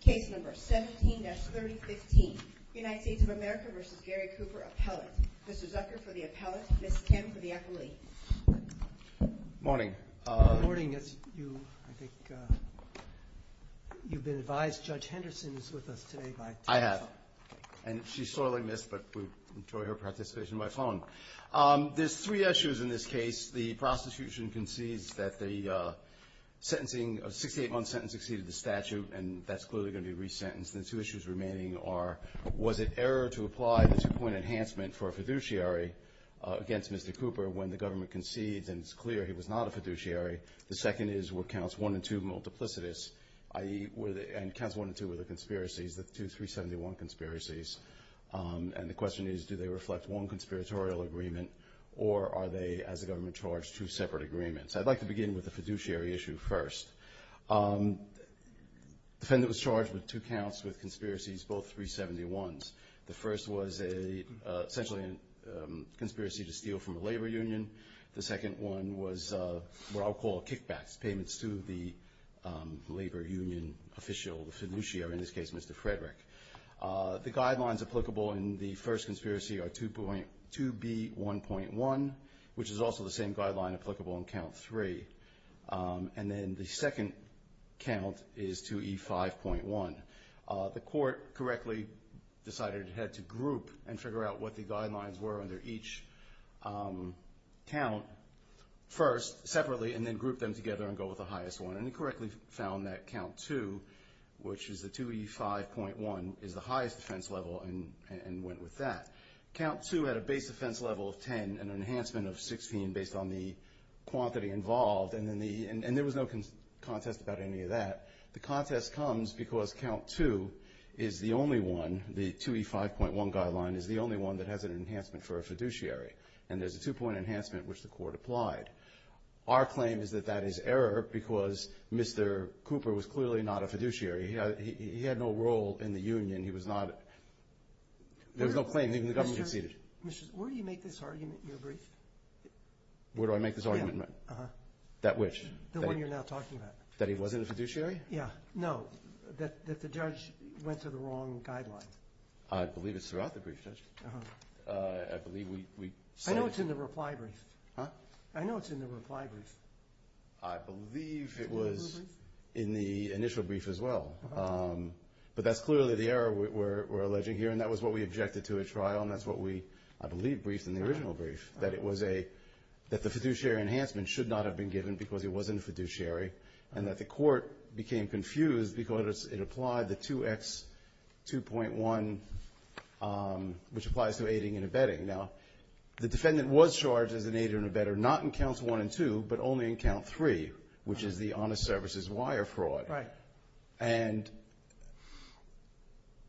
Case number 17-3015, United States of America v. Gary Cooper Appellate. Mr. Zucker for the appellate, Ms. Kim for the accolade. Good morning. Good morning. You've been advised Judge Henderson is with us today. I have. And she's sorely missed, but we enjoy her participation by phone. There's three issues in this case. The prosecution concedes that the sentencing, a 68-month sentence exceeded the statute, and that's clearly going to be resentenced. And the two issues remaining are, was it error to apply the two-point enhancement for a fiduciary against Mr. Cooper when the government concedes and it's clear he was not a fiduciary? The second is, were Counts 1 and 2 multiplicitous, i.e., and Counts 1 and 2 were the conspiracies, the two 371 conspiracies, and the question is, do they reflect one conspiratorial agreement or are they, as the government charged, two separate agreements? I'd like to begin with the fiduciary issue first. The defendant was charged with two counts with conspiracies, both 371s. The first was essentially a conspiracy to steal from a labor union. The second one was what I'll call kickbacks, payments to the labor union official, the fiduciary, in this case Mr. Frederick. The guidelines applicable in the first conspiracy are 2B.1.1, which is also the same guideline applicable in Count 3. And then the second count is 2E.5.1. The court correctly decided it had to group and figure out what the guidelines were under each count first, separately, and then group them together and go with the highest one, and it correctly found that Count 2, which is the 2E.5.1, is the highest defense level and went with that. Count 2 had a base defense level of 10 and an enhancement of 16 based on the quantity involved, and there was no contest about any of that. The contest comes because Count 2 is the only one, the 2E.5.1 guideline, is the only one that has an enhancement for a fiduciary, and there's a two-point enhancement which the court applied. Our claim is that that is error because Mr. Cooper was clearly not a fiduciary. He had no role in the union. He was not – there was no claim. Even the government conceded. Mr. – where do you make this argument in your brief? Where do I make this argument? Yeah, uh-huh. That which? The one you're now talking about. That he wasn't a fiduciary? Yeah. No, that the judge went to the wrong guideline. I believe it's throughout the brief, Judge. Uh-huh. I believe we – I know it's in the reply brief. Huh? I know it's in the reply brief. I believe it was in the initial brief as well. Uh-huh. But that's clearly the error we're alleging here, and that was what we objected to at trial, and that's what we, I believe, briefed in the original brief, that it was a – that the fiduciary enhancement should not have been given because he wasn't a fiduciary, and that the court became confused because it applied the 2X2.1, which applies to aiding and abetting. Now, the defendant was charged as an aider and abetter, not in counts one and two, but only in count three, which is the honest services wire fraud. Right. And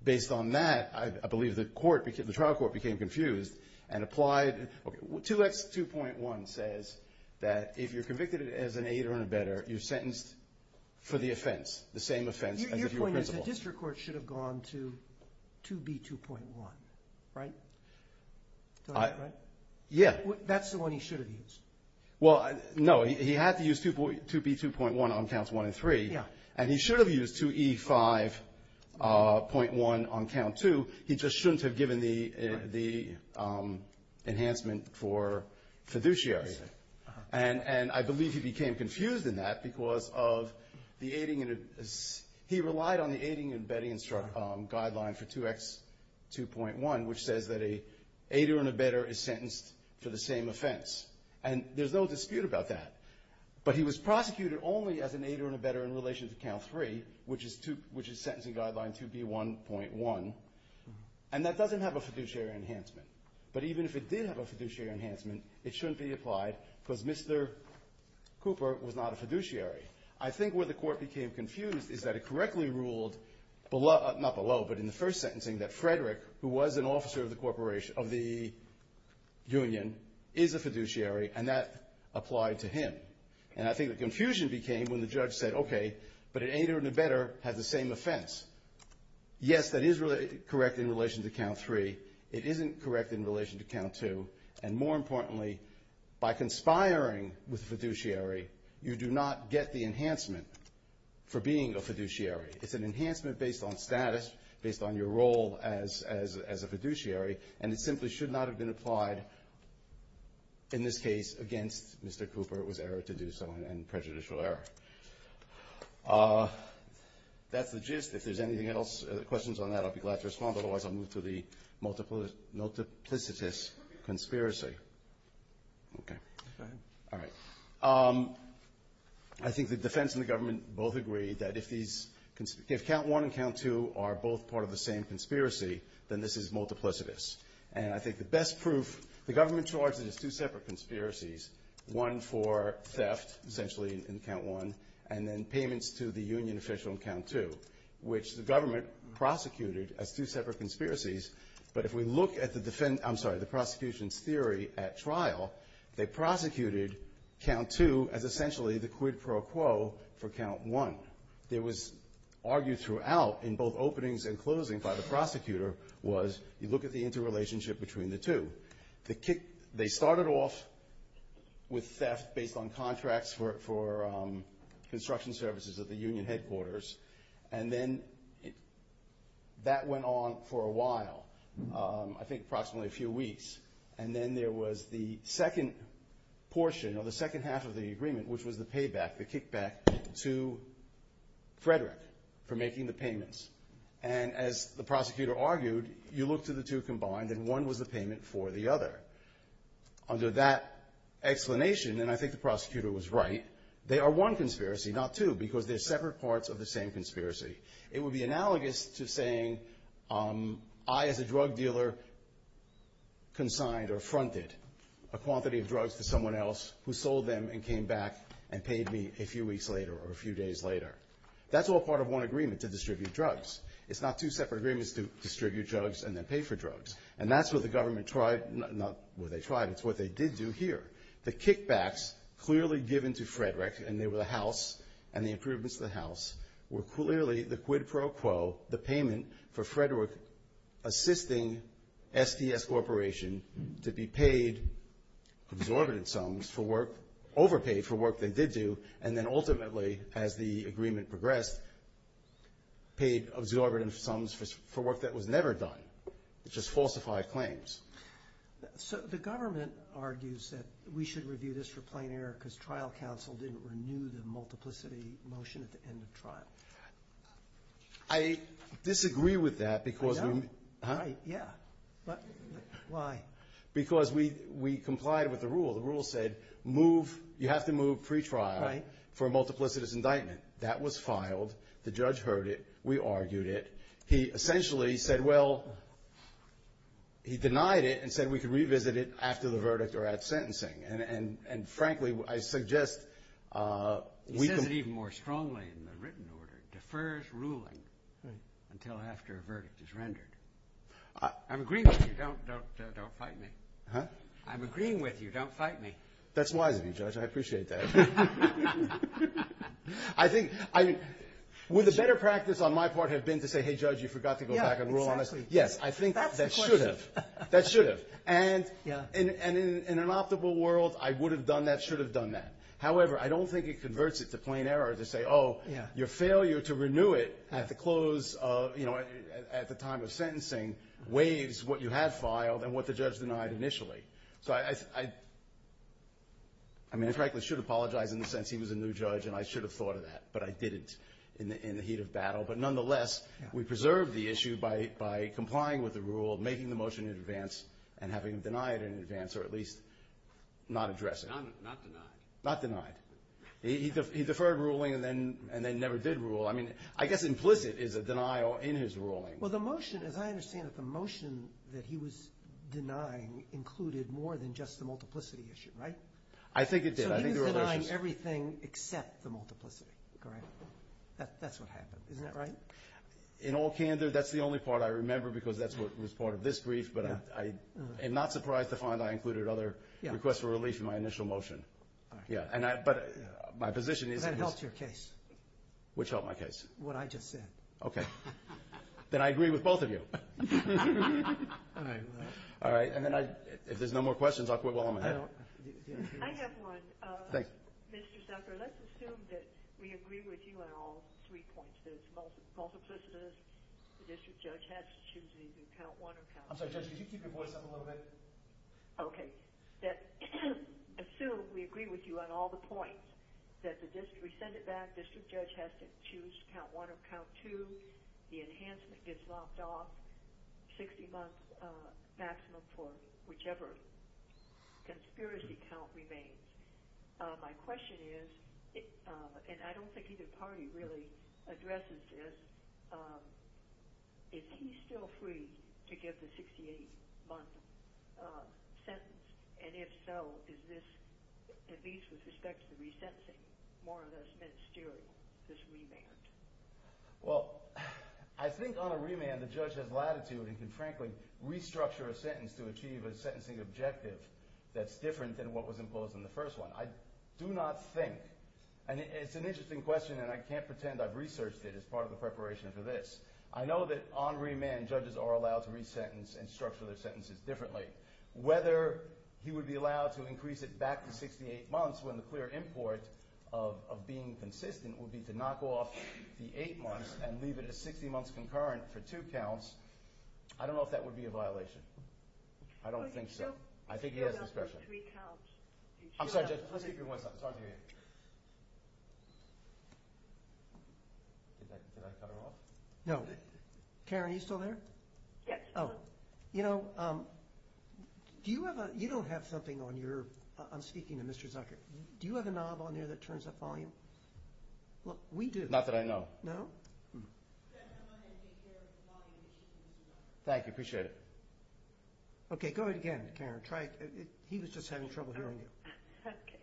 based on that, I believe the court – the trial court became confused and applied – 2X2.1 says that if you're convicted as an aider and abetter, you're sentenced for the offense, the same offense as if you were principled. The district court should have gone to 2B2.1, right? Yeah. That's the one he should have used. Well, no. He had to use 2B2.1 on counts one and three. Yeah. And he should have used 2E5.1 on count two. Uh-huh. And I believe he became confused in that because of the aiding and – he relied on the aiding and abetting guideline for 2X2.1, which says that an aider and abetter is sentenced for the same offense. And there's no dispute about that. But he was prosecuted only as an aider and abetter in relation to count three, which is sentencing guideline 2B1.1. And that doesn't have a fiduciary enhancement. But even if it did have a fiduciary enhancement, it shouldn't be applied because Mr. Cooper was not a fiduciary. I think where the court became confused is that it correctly ruled, not below but in the first sentencing, that Frederick, who was an officer of the corporation – of the union, is a fiduciary, and that applied to him. And I think the confusion became when the judge said, okay, but an aider and abetter has the same offense. Yes, that is correct in relation to count three. It isn't correct in relation to count two. And more importantly, by conspiring with a fiduciary, you do not get the enhancement for being a fiduciary. It's an enhancement based on status, based on your role as a fiduciary, and it simply should not have been applied, in this case, against Mr. Cooper. It was error to do so and prejudicial error. That's the gist. If there's anything else, questions on that, I'll be glad to respond. Otherwise, I'll move to the multiplicitous conspiracy. Okay. All right. I think the defense and the government both agree that if these – if count one and count two are both part of the same conspiracy, then this is multiplicitous. And I think the best proof – the government charged it as two separate conspiracies, one for theft, essentially, in count one, and then payments to the union official in count two, which the government prosecuted as two separate conspiracies. But if we look at the – I'm sorry, the prosecution's theory at trial, they prosecuted count two as essentially the quid pro quo for count one. It was argued throughout in both openings and closings by the prosecutor was you look at the interrelationship between the two. They started off with theft based on contracts for construction services at the union headquarters, and then that went on for a while, I think approximately a few weeks. And then there was the second portion or the second half of the agreement, which was the payback, the kickback to Frederick for making the payments. And as the prosecutor argued, you look to the two combined, and one was the payment for the other. Under that explanation, and I think the prosecutor was right, they are one conspiracy, not two, because they're separate parts of the same conspiracy. It would be analogous to saying I as a drug dealer consigned or fronted a quantity of drugs to someone else who sold them and came back and paid me a few weeks later or a few days later. That's all part of one agreement to distribute drugs. It's not two separate agreements to distribute drugs and then pay for drugs. And that's what the government tried – not what they tried, it's what they did do here. The kickbacks clearly given to Frederick, and they were the House, and the improvements to the House, were clearly the quid pro quo, the payment for Frederick assisting STS Corporation to be paid absorbent sums for work, overpaid for work they did do, and then ultimately, as the agreement progressed, paid absorbent sums for work that was never done, which is falsified claims. So the government argues that we should review this for plain error because trial counsel didn't renew the multiplicity motion at the end of trial. I disagree with that because we – Yeah. Huh? Yeah. Why? Because we complied with the rule. The rule said move – you have to move pretrial for a multiplicitous indictment. That was filed. The judge heard it. We argued it. He essentially said, well, he denied it and said we could revisit it after the verdict or at sentencing. And, frankly, I suggest we can – He says it even more strongly in the written order, defers ruling until after a verdict is rendered. I'm agreeing with you. Don't fight me. Huh? I'm agreeing with you. Don't fight me. That's wise of you, Judge. I appreciate that. I think – would the better practice on my part have been to say, hey, Judge, you forgot to go back and rule on this? Yeah, exactly. Yes, I think that should have. That's the question. That should have. And in an optimal world, I would have done that, should have done that. However, I don't think it converts it to plain error to say, oh, your failure to renew it at the close of – at the time of sentencing weighs what you have filed and what the judge denied initially. So I – I mean, I frankly should apologize in the sense he was a new judge and I should have thought of that, but I didn't in the heat of battle. But nonetheless, we preserved the issue by complying with the rule, making the motion in advance, and having him deny it in advance or at least not address it. Not denied. Not denied. He deferred ruling and then never did rule. I mean, I guess implicit is a denial in his ruling. Well, the motion, as I understand it, the motion that he was denying, included more than just the multiplicity issue, right? I think it did. So you denied everything except the multiplicity, correct? That's what happened. Isn't that right? In all candor, that's the only part I remember because that's what was part of this brief, but I am not surprised to find I included other requests for relief in my initial motion. Yeah, but my position is – But that helped your case. Which helped my case? What I just said. Okay. Then I agree with both of you. All right. And then if there's no more questions, I'll quit while I'm ahead. I have one. Thanks. Mr. Zucker, let's assume that we agree with you on all three points, that it's multiplicity, the district judge has to choose either count one or count two. I'm sorry, Judge, could you keep your voice up a little bit? Okay. Assume we agree with you on all the points, that we send it back, district judge has to choose count one or count two, the enhancement gets lopped off, 60 months maximum for whichever conspiracy count remains. My question is, and I don't think either party really addresses this, is he still free to give the 68-month sentence? And if so, is this, at least with respect to the resentencing, more or less ministerial, this remand? Well, I think on a remand the judge has latitude and can frankly restructure a sentence to achieve a sentencing objective that's different than what was imposed in the first one. I do not think, and it's an interesting question, and I can't pretend I've researched it as part of the preparation for this. I know that on remand judges are allowed to resentence and structure their sentences differently. Whether he would be allowed to increase it back to 68 months when the clear import of being consistent would be to knock off the eight months and leave it at 60 months concurrent for two counts, I don't know if that would be a violation. I don't think so. I think he has discretion. I'm sorry, judge, let's keep your voice up. It's hard to hear you. Did I cut her off? No. Karen, are you still there? Yes. Oh, you know, you don't have something on your—I'm speaking to Mr. Zucker. Do you have a knob on there that turns up volume? Look, we do. Not that I know of. No? Thank you. Appreciate it. Okay, go ahead again, Karen. He was just having trouble hearing you. Okay.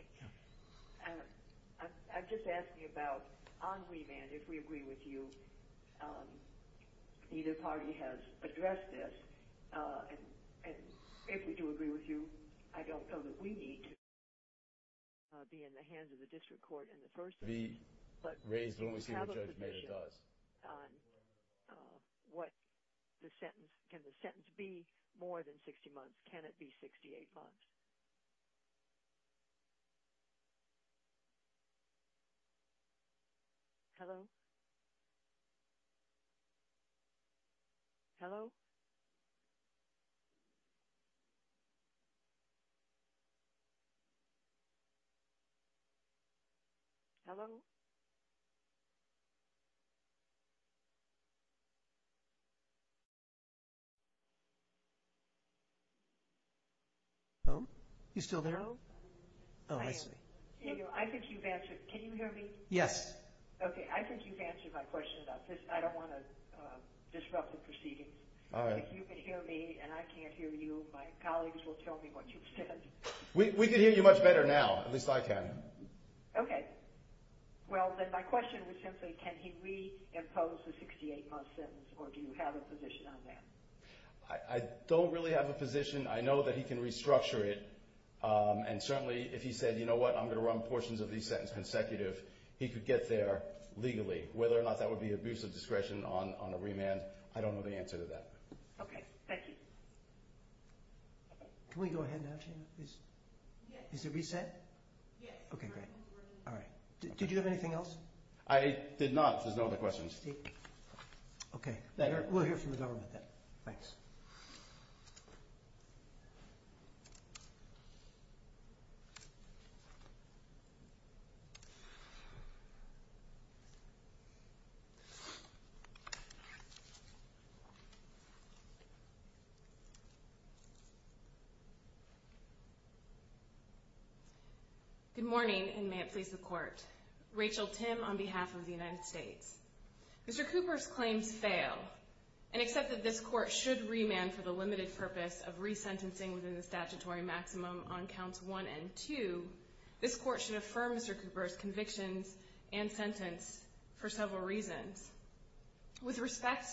I'm just asking about on remand, if we agree with you, either party has addressed this, and if we do agree with you, I don't know that we need to be in the hands of the district court in the first place, but do you have a position on what the sentence—can the sentence be more than 60 months? Can it be 68 months? Hello? Hello? Hello? Oh, you still there? Oh, I see. I think you've answered—can you hear me? Yes. Okay, I think you've answered my question about this. I don't want to disrupt the proceedings. All right. If you can hear me and I can't hear you, my colleagues will tell me what you've said. We can hear you much better now. At least I can. Okay. Well, then my question was simply, can he reimpose the 68-month sentence, or do you have a position on that? I don't really have a position. I know that he can restructure it, and certainly if he said, you know what, I'm going to run portions of these sentences consecutive, he could get there legally. Whether or not that would be an abuse of discretion on a remand, I don't know the answer to that. Okay, thank you. Can we go ahead now, Jane, please? Yes. Is it reset? Yes. Okay, great. All right. Did you have anything else? I did not. There's no other questions. Okay. We'll hear from the government then. Thanks. Thank you. Good morning, and may it please the Court. Rachel Tim on behalf of the United States. Mr. Cooper's claims fail, and except that this Court should remand for the limited purpose of resentencing within the statutory maximum on Counts 1 and 2, this Court should affirm Mr. Cooper's convictions and sentence for several reasons. With respect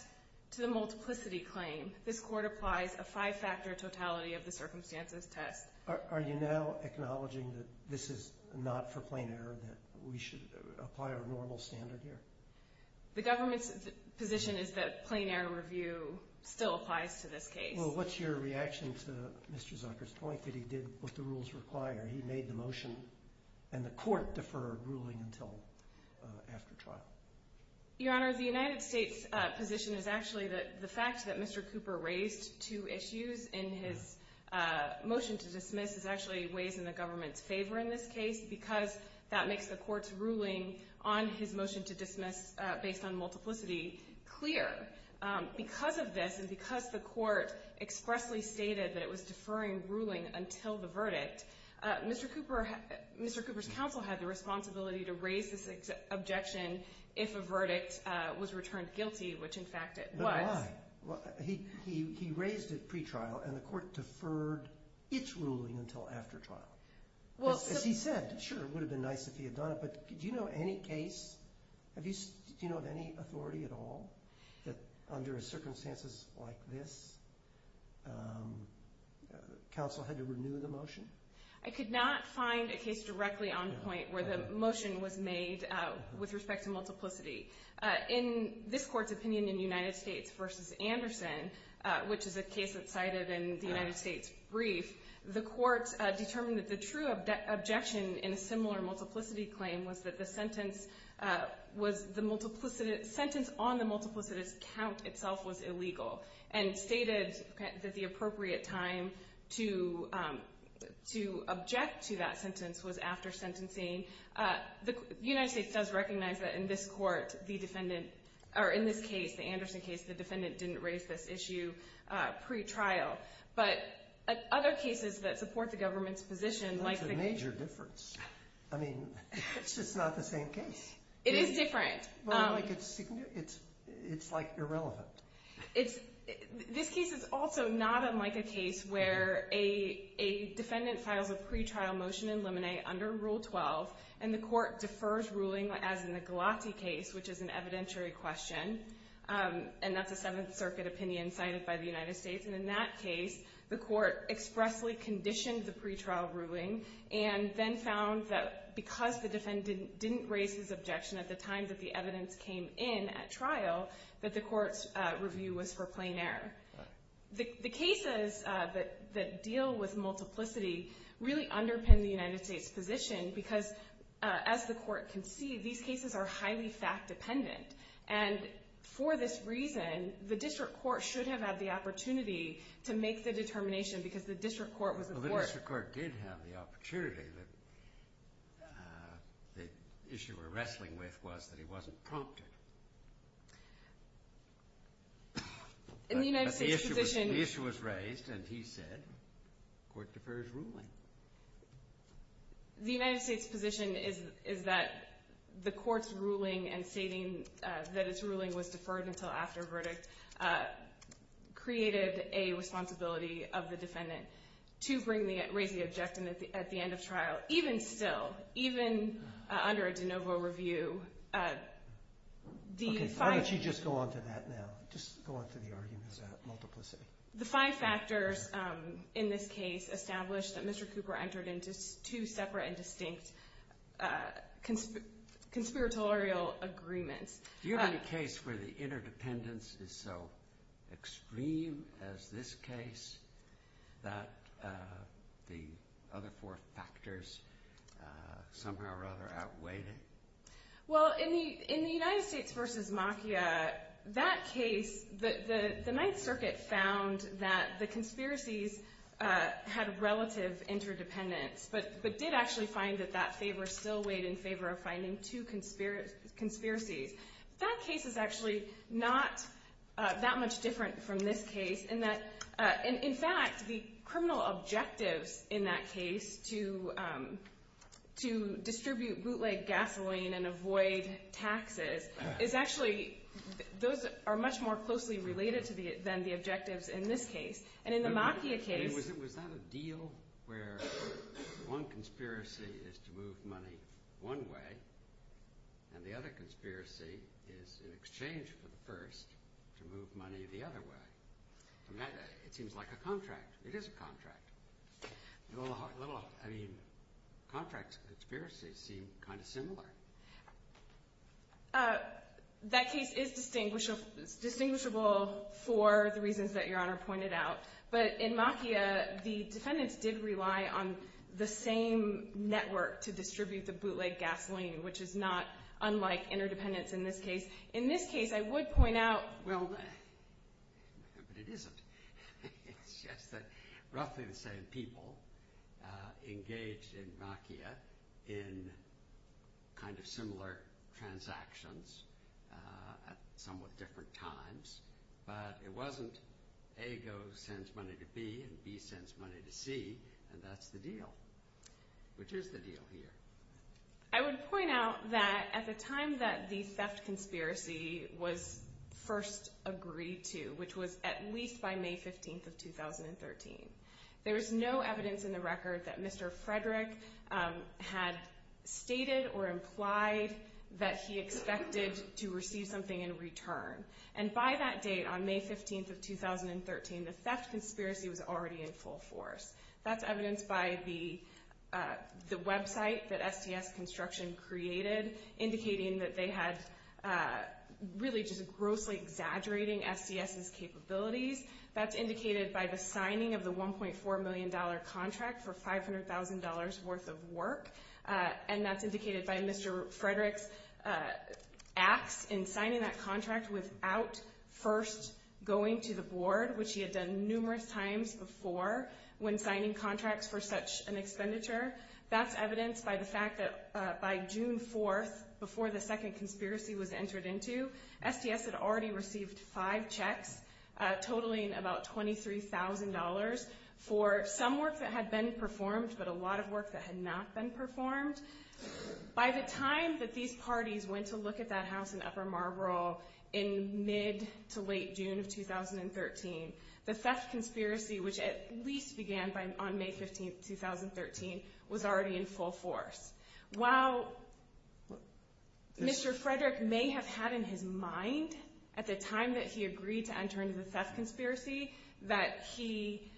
to the multiplicity claim, this Court applies a five-factor totality of the circumstances test. Are you now acknowledging that this is not for plain error, that we should apply our normal standard here? The government's position is that plain error review still applies to this case. Well, what's your reaction to Mr. Zucker's point that he did what the rules require? He made the motion, and the Court deferred ruling until after trial. Your Honor, the United States' position is actually that the fact that Mr. Cooper raised two issues in his motion to dismiss is actually a ways in the government's favor in this case because that makes the Court's ruling on his motion to dismiss based on multiplicity clear. Because of this and because the Court expressly stated that it was deferring ruling until the verdict, Mr. Cooper's counsel had the responsibility to raise this objection if a verdict was returned guilty, which, in fact, it was. But why? He raised it pretrial, and the Court deferred its ruling until after trial. As he said, sure, it would have been nice if he had done it, but do you know of any case, I could not find a case directly on point where the motion was made with respect to multiplicity. In this Court's opinion in United States v. Anderson, which is a case that's cited in the United States brief, the Court determined that the true objection in a similar multiplicity claim was that the sentence on the multiplicitous count itself was illegal and stated that the appropriate time to object to that sentence was after sentencing. The United States does recognize that in this case, the Anderson case, the defendant didn't raise this issue pretrial. But other cases that support the government's position like the case— That's a major difference. I mean, it's just not the same case. It is different. It's like irrelevant. This case is also not unlike a case where a defendant files a pretrial motion in limine under Rule 12, and the Court defers ruling as in the Galati case, which is an evidentiary question, and that's a Seventh Circuit opinion cited by the United States. And in that case, the Court expressly conditioned the pretrial ruling and then found that because the defendant didn't raise his objection at the time that the evidence came in at trial, that the Court's review was for plain error. The cases that deal with multiplicity really underpin the United States' position because, as the Court can see, these cases are highly fact-dependent. And for this reason, the district court should have had the opportunity to make the determination, because the district court was the Court. The district court did have the opportunity. The issue we're wrestling with was that it wasn't prompted. In the United States' position— But the issue was raised, and he said the Court defers ruling. The United States' position is that the Court's ruling and stating that its ruling was deferred until after verdict created a responsibility of the defendant to raise the objection at the end of trial. Even still, even under a de novo review, the five— Okay, why don't you just go on to that now, just go on to the argument about multiplicity. The five factors in this case establish that Mr. Cooper entered into two separate and distinct conspiratorial agreements. Do you have any case where the interdependence is so extreme as this case that the other four factors somehow or other outweighed it? Well, in the United States v. Machia, that case, the Ninth Circuit found that the conspiracies had relative interdependence, but did actually find that that favor still weighed in favor of finding two conspiracies. That case is actually not that much different from this case in that, in fact, the criminal objectives in that case to distribute bootleg gasoline and avoid taxes is actually—those are much more closely related than the objectives in this case. And in the Machia case— Was that a deal where one conspiracy is to move money one way and the other conspiracy is in exchange for the first to move money the other way? It seems like a contract. It is a contract. That case is distinguishable for the reasons that Your Honor pointed out. But in Machia, the defendants did rely on the same network to distribute the bootleg gasoline, which is not unlike interdependence in this case. In this case, I would point out— Well, but it isn't. It's just that roughly the same people engaged in Machia in kind of similar transactions at somewhat different times, but it wasn't A goes and sends money to B and B sends money to C, and that's the deal, which is the deal here. I would point out that at the time that the theft conspiracy was first agreed to, which was at least by May 15th of 2013, there was no evidence in the record that Mr. Frederick had stated or implied that he expected to receive something in return. And by that date, on May 15th of 2013, the theft conspiracy was already in full force. That's evidenced by the website that SDS Construction created, indicating that they had really just grossly exaggerating SDS's capabilities. That's indicated by the signing of the $1.4 million contract for $500,000 worth of work, and that's indicated by Mr. Frederick's acts in signing that contract without first going to the board, which he had done numerous times before when signing contracts for such an expenditure. That's evidenced by the fact that by June 4th, before the second conspiracy was entered into, SDS had already received five checks totaling about $23,000 for some work that had been performed but a lot of work that had not been performed. By the time that these parties went to look at that house in Upper Marlboro in mid to late June of 2013, the theft conspiracy, which at least began on May 15th, 2013, was already in full force. While Mr. Frederick may have had in his mind at the time that he agreed to enter into the theft conspiracy that he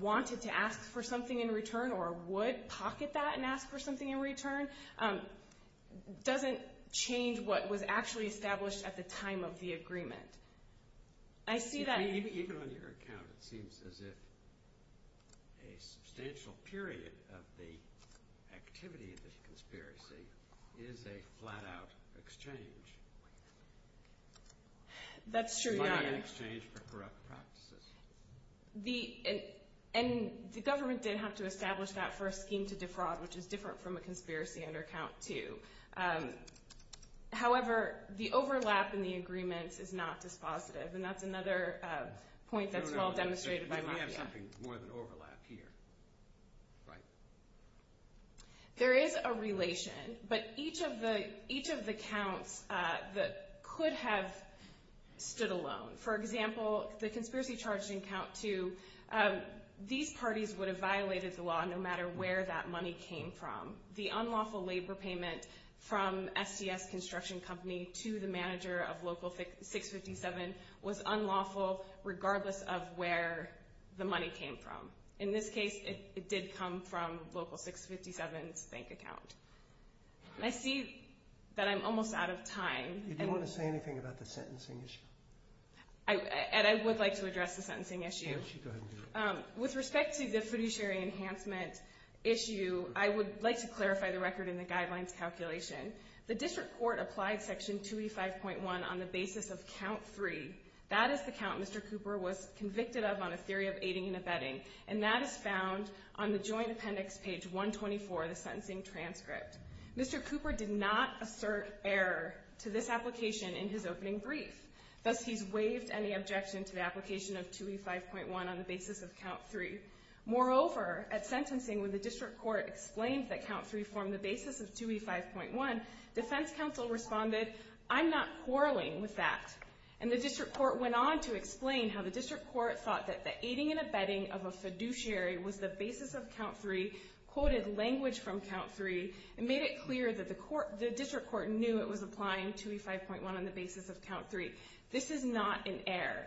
wanted to ask for something in return or would pocket that and ask for something in return, doesn't change what was actually established at the time of the agreement. Even on your account, it seems as if a substantial period of the activity of the conspiracy is a flat-out exchange. That's true. It's not an exchange for corrupt practices. The government did have to establish that first scheme to defraud, which is different from a conspiracy under Count 2. However, the overlap in the agreements is not dispositive, and that's another point that's well demonstrated by Mafia. We have something more than overlap here. There is a relation, but each of the counts could have stood alone. For example, the conspiracy charged in Count 2, these parties would have violated the law no matter where that money came from. The unlawful labor payment from SDS Construction Company to the manager of Local 657 was unlawful, regardless of where the money came from. In this case, it did come from Local 657's bank account. I see that I'm almost out of time. Do you want to say anything about the sentencing issue? I would like to address the sentencing issue. With respect to the fiduciary enhancement issue, I would like to clarify the record in the guidelines calculation. The district court applied Section 285.1 on the basis of Count 3. That is the count Mr. Cooper was convicted of on a theory of aiding and abetting, and that is found on the joint appendix, page 124 of the sentencing transcript. Mr. Cooper did not assert error to this application in his opening brief. Thus, he's waived any objection to the application of 2E5.1 on the basis of Count 3. Moreover, at sentencing, when the district court explained that Count 3 formed the basis of 2E5.1, defense counsel responded, I'm not quarreling with that. And the district court went on to explain how the district court thought that the aiding and abetting of a fiduciary was the basis of Count 3, quoted language from Count 3, and made it clear that the district court knew it was applying 2E5.1 on the basis of Count 3. This is not an error.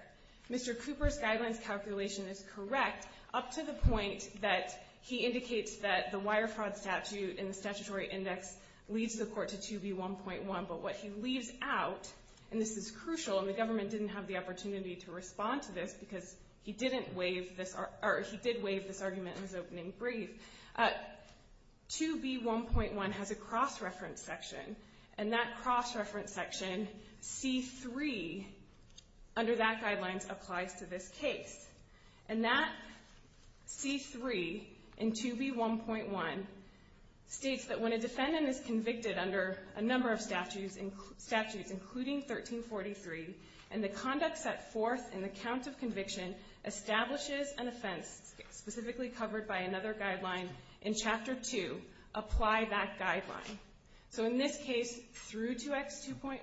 Mr. Cooper's guidelines calculation is correct up to the point that he indicates that the wire fraud statute in the statutory index leads the court to 2B1.1, but what he leaves out, and this is crucial, and the government didn't have the opportunity to respond to this because he did waive this argument in his opening brief. 2B1.1 has a cross-reference section, and that cross-reference section, C3, under that guidelines applies to this case. And that C3 in 2B1.1 states that when a defendant is convicted under a number of statutes, including 1343, and the conduct set forth in the count of conviction establishes an offense, specifically covered by another guideline in Chapter 2, apply that guideline. So in this case, through 2X2.1,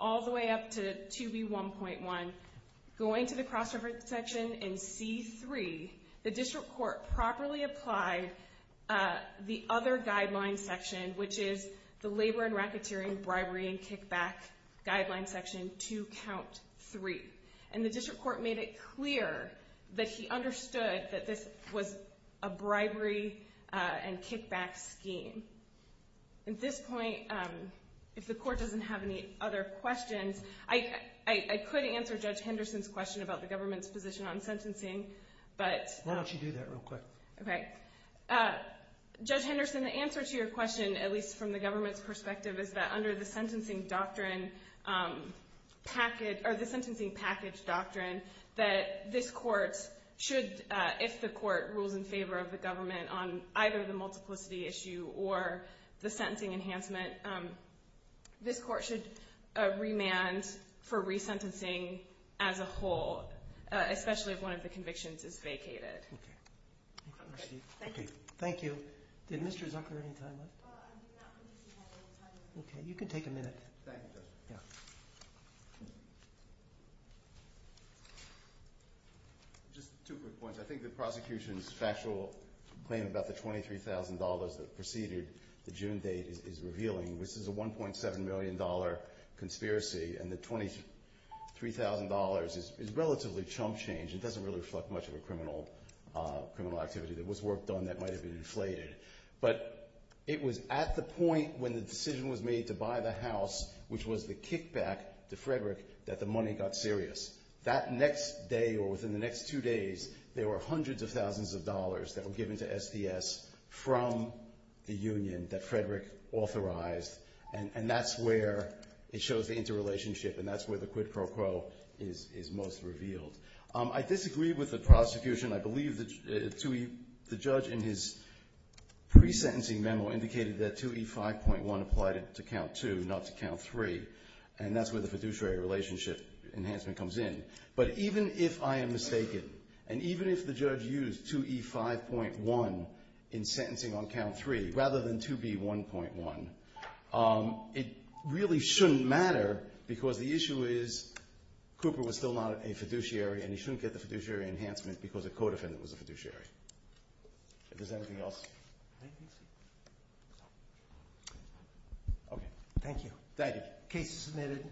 all the way up to 2B1.1, going to the cross-reference section in C3, the district court properly applied the other guideline section, which is the labor and racketeering bribery and kickback guideline section to Count 3. And the district court made it clear that he understood that this was a bribery and kickback scheme. At this point, if the court doesn't have any other questions, I could answer Judge Henderson's question about the government's position on sentencing, but... Why don't you do that real quick? Okay. Judge Henderson, the answer to your question, at least from the government's perspective, is that under the sentencing doctrine package, or the sentencing package doctrine, that this court should, if the court rules in favor of the government on either the multiplicity issue or the sentencing enhancement, this court should remand for resentencing as a whole, especially if one of the convictions is vacated. Okay. Thank you. Did Mr. Zucker have any time left? Okay. You can take a minute. Thank you, Justice. Yeah. Just two quick points. I think the prosecution's factual claim about the $23,000 that preceded the June date is revealing. This is a $1.7 million conspiracy, and the $23,000 is relatively chump change. It doesn't really reflect much of a criminal activity. There was work done that might have been inflated. But it was at the point when the decision was made to buy the house, which was the kickback to Frederick, that the money got serious. That next day or within the next two days, there were hundreds of thousands of dollars that were given to SDS from the union that Frederick authorized, and that's where it shows the interrelationship, and that's where the quid pro quo is most revealed. I disagree with the prosecution. I believe the judge in his pre-sentencing memo indicated that 2E5.1 applied to Count 2, not to Count 3, and that's where the fiduciary relationship enhancement comes in. But even if I am mistaken, and even if the judge used 2E5.1 in sentencing on Count 3 rather than 2B1.1, it really shouldn't matter because the issue is Cooper was still not a fiduciary, and he shouldn't get the fiduciary enhancement because a co-defendant was a fiduciary. If there's anything else. Okay. Thank you. Thank you. Case submitted.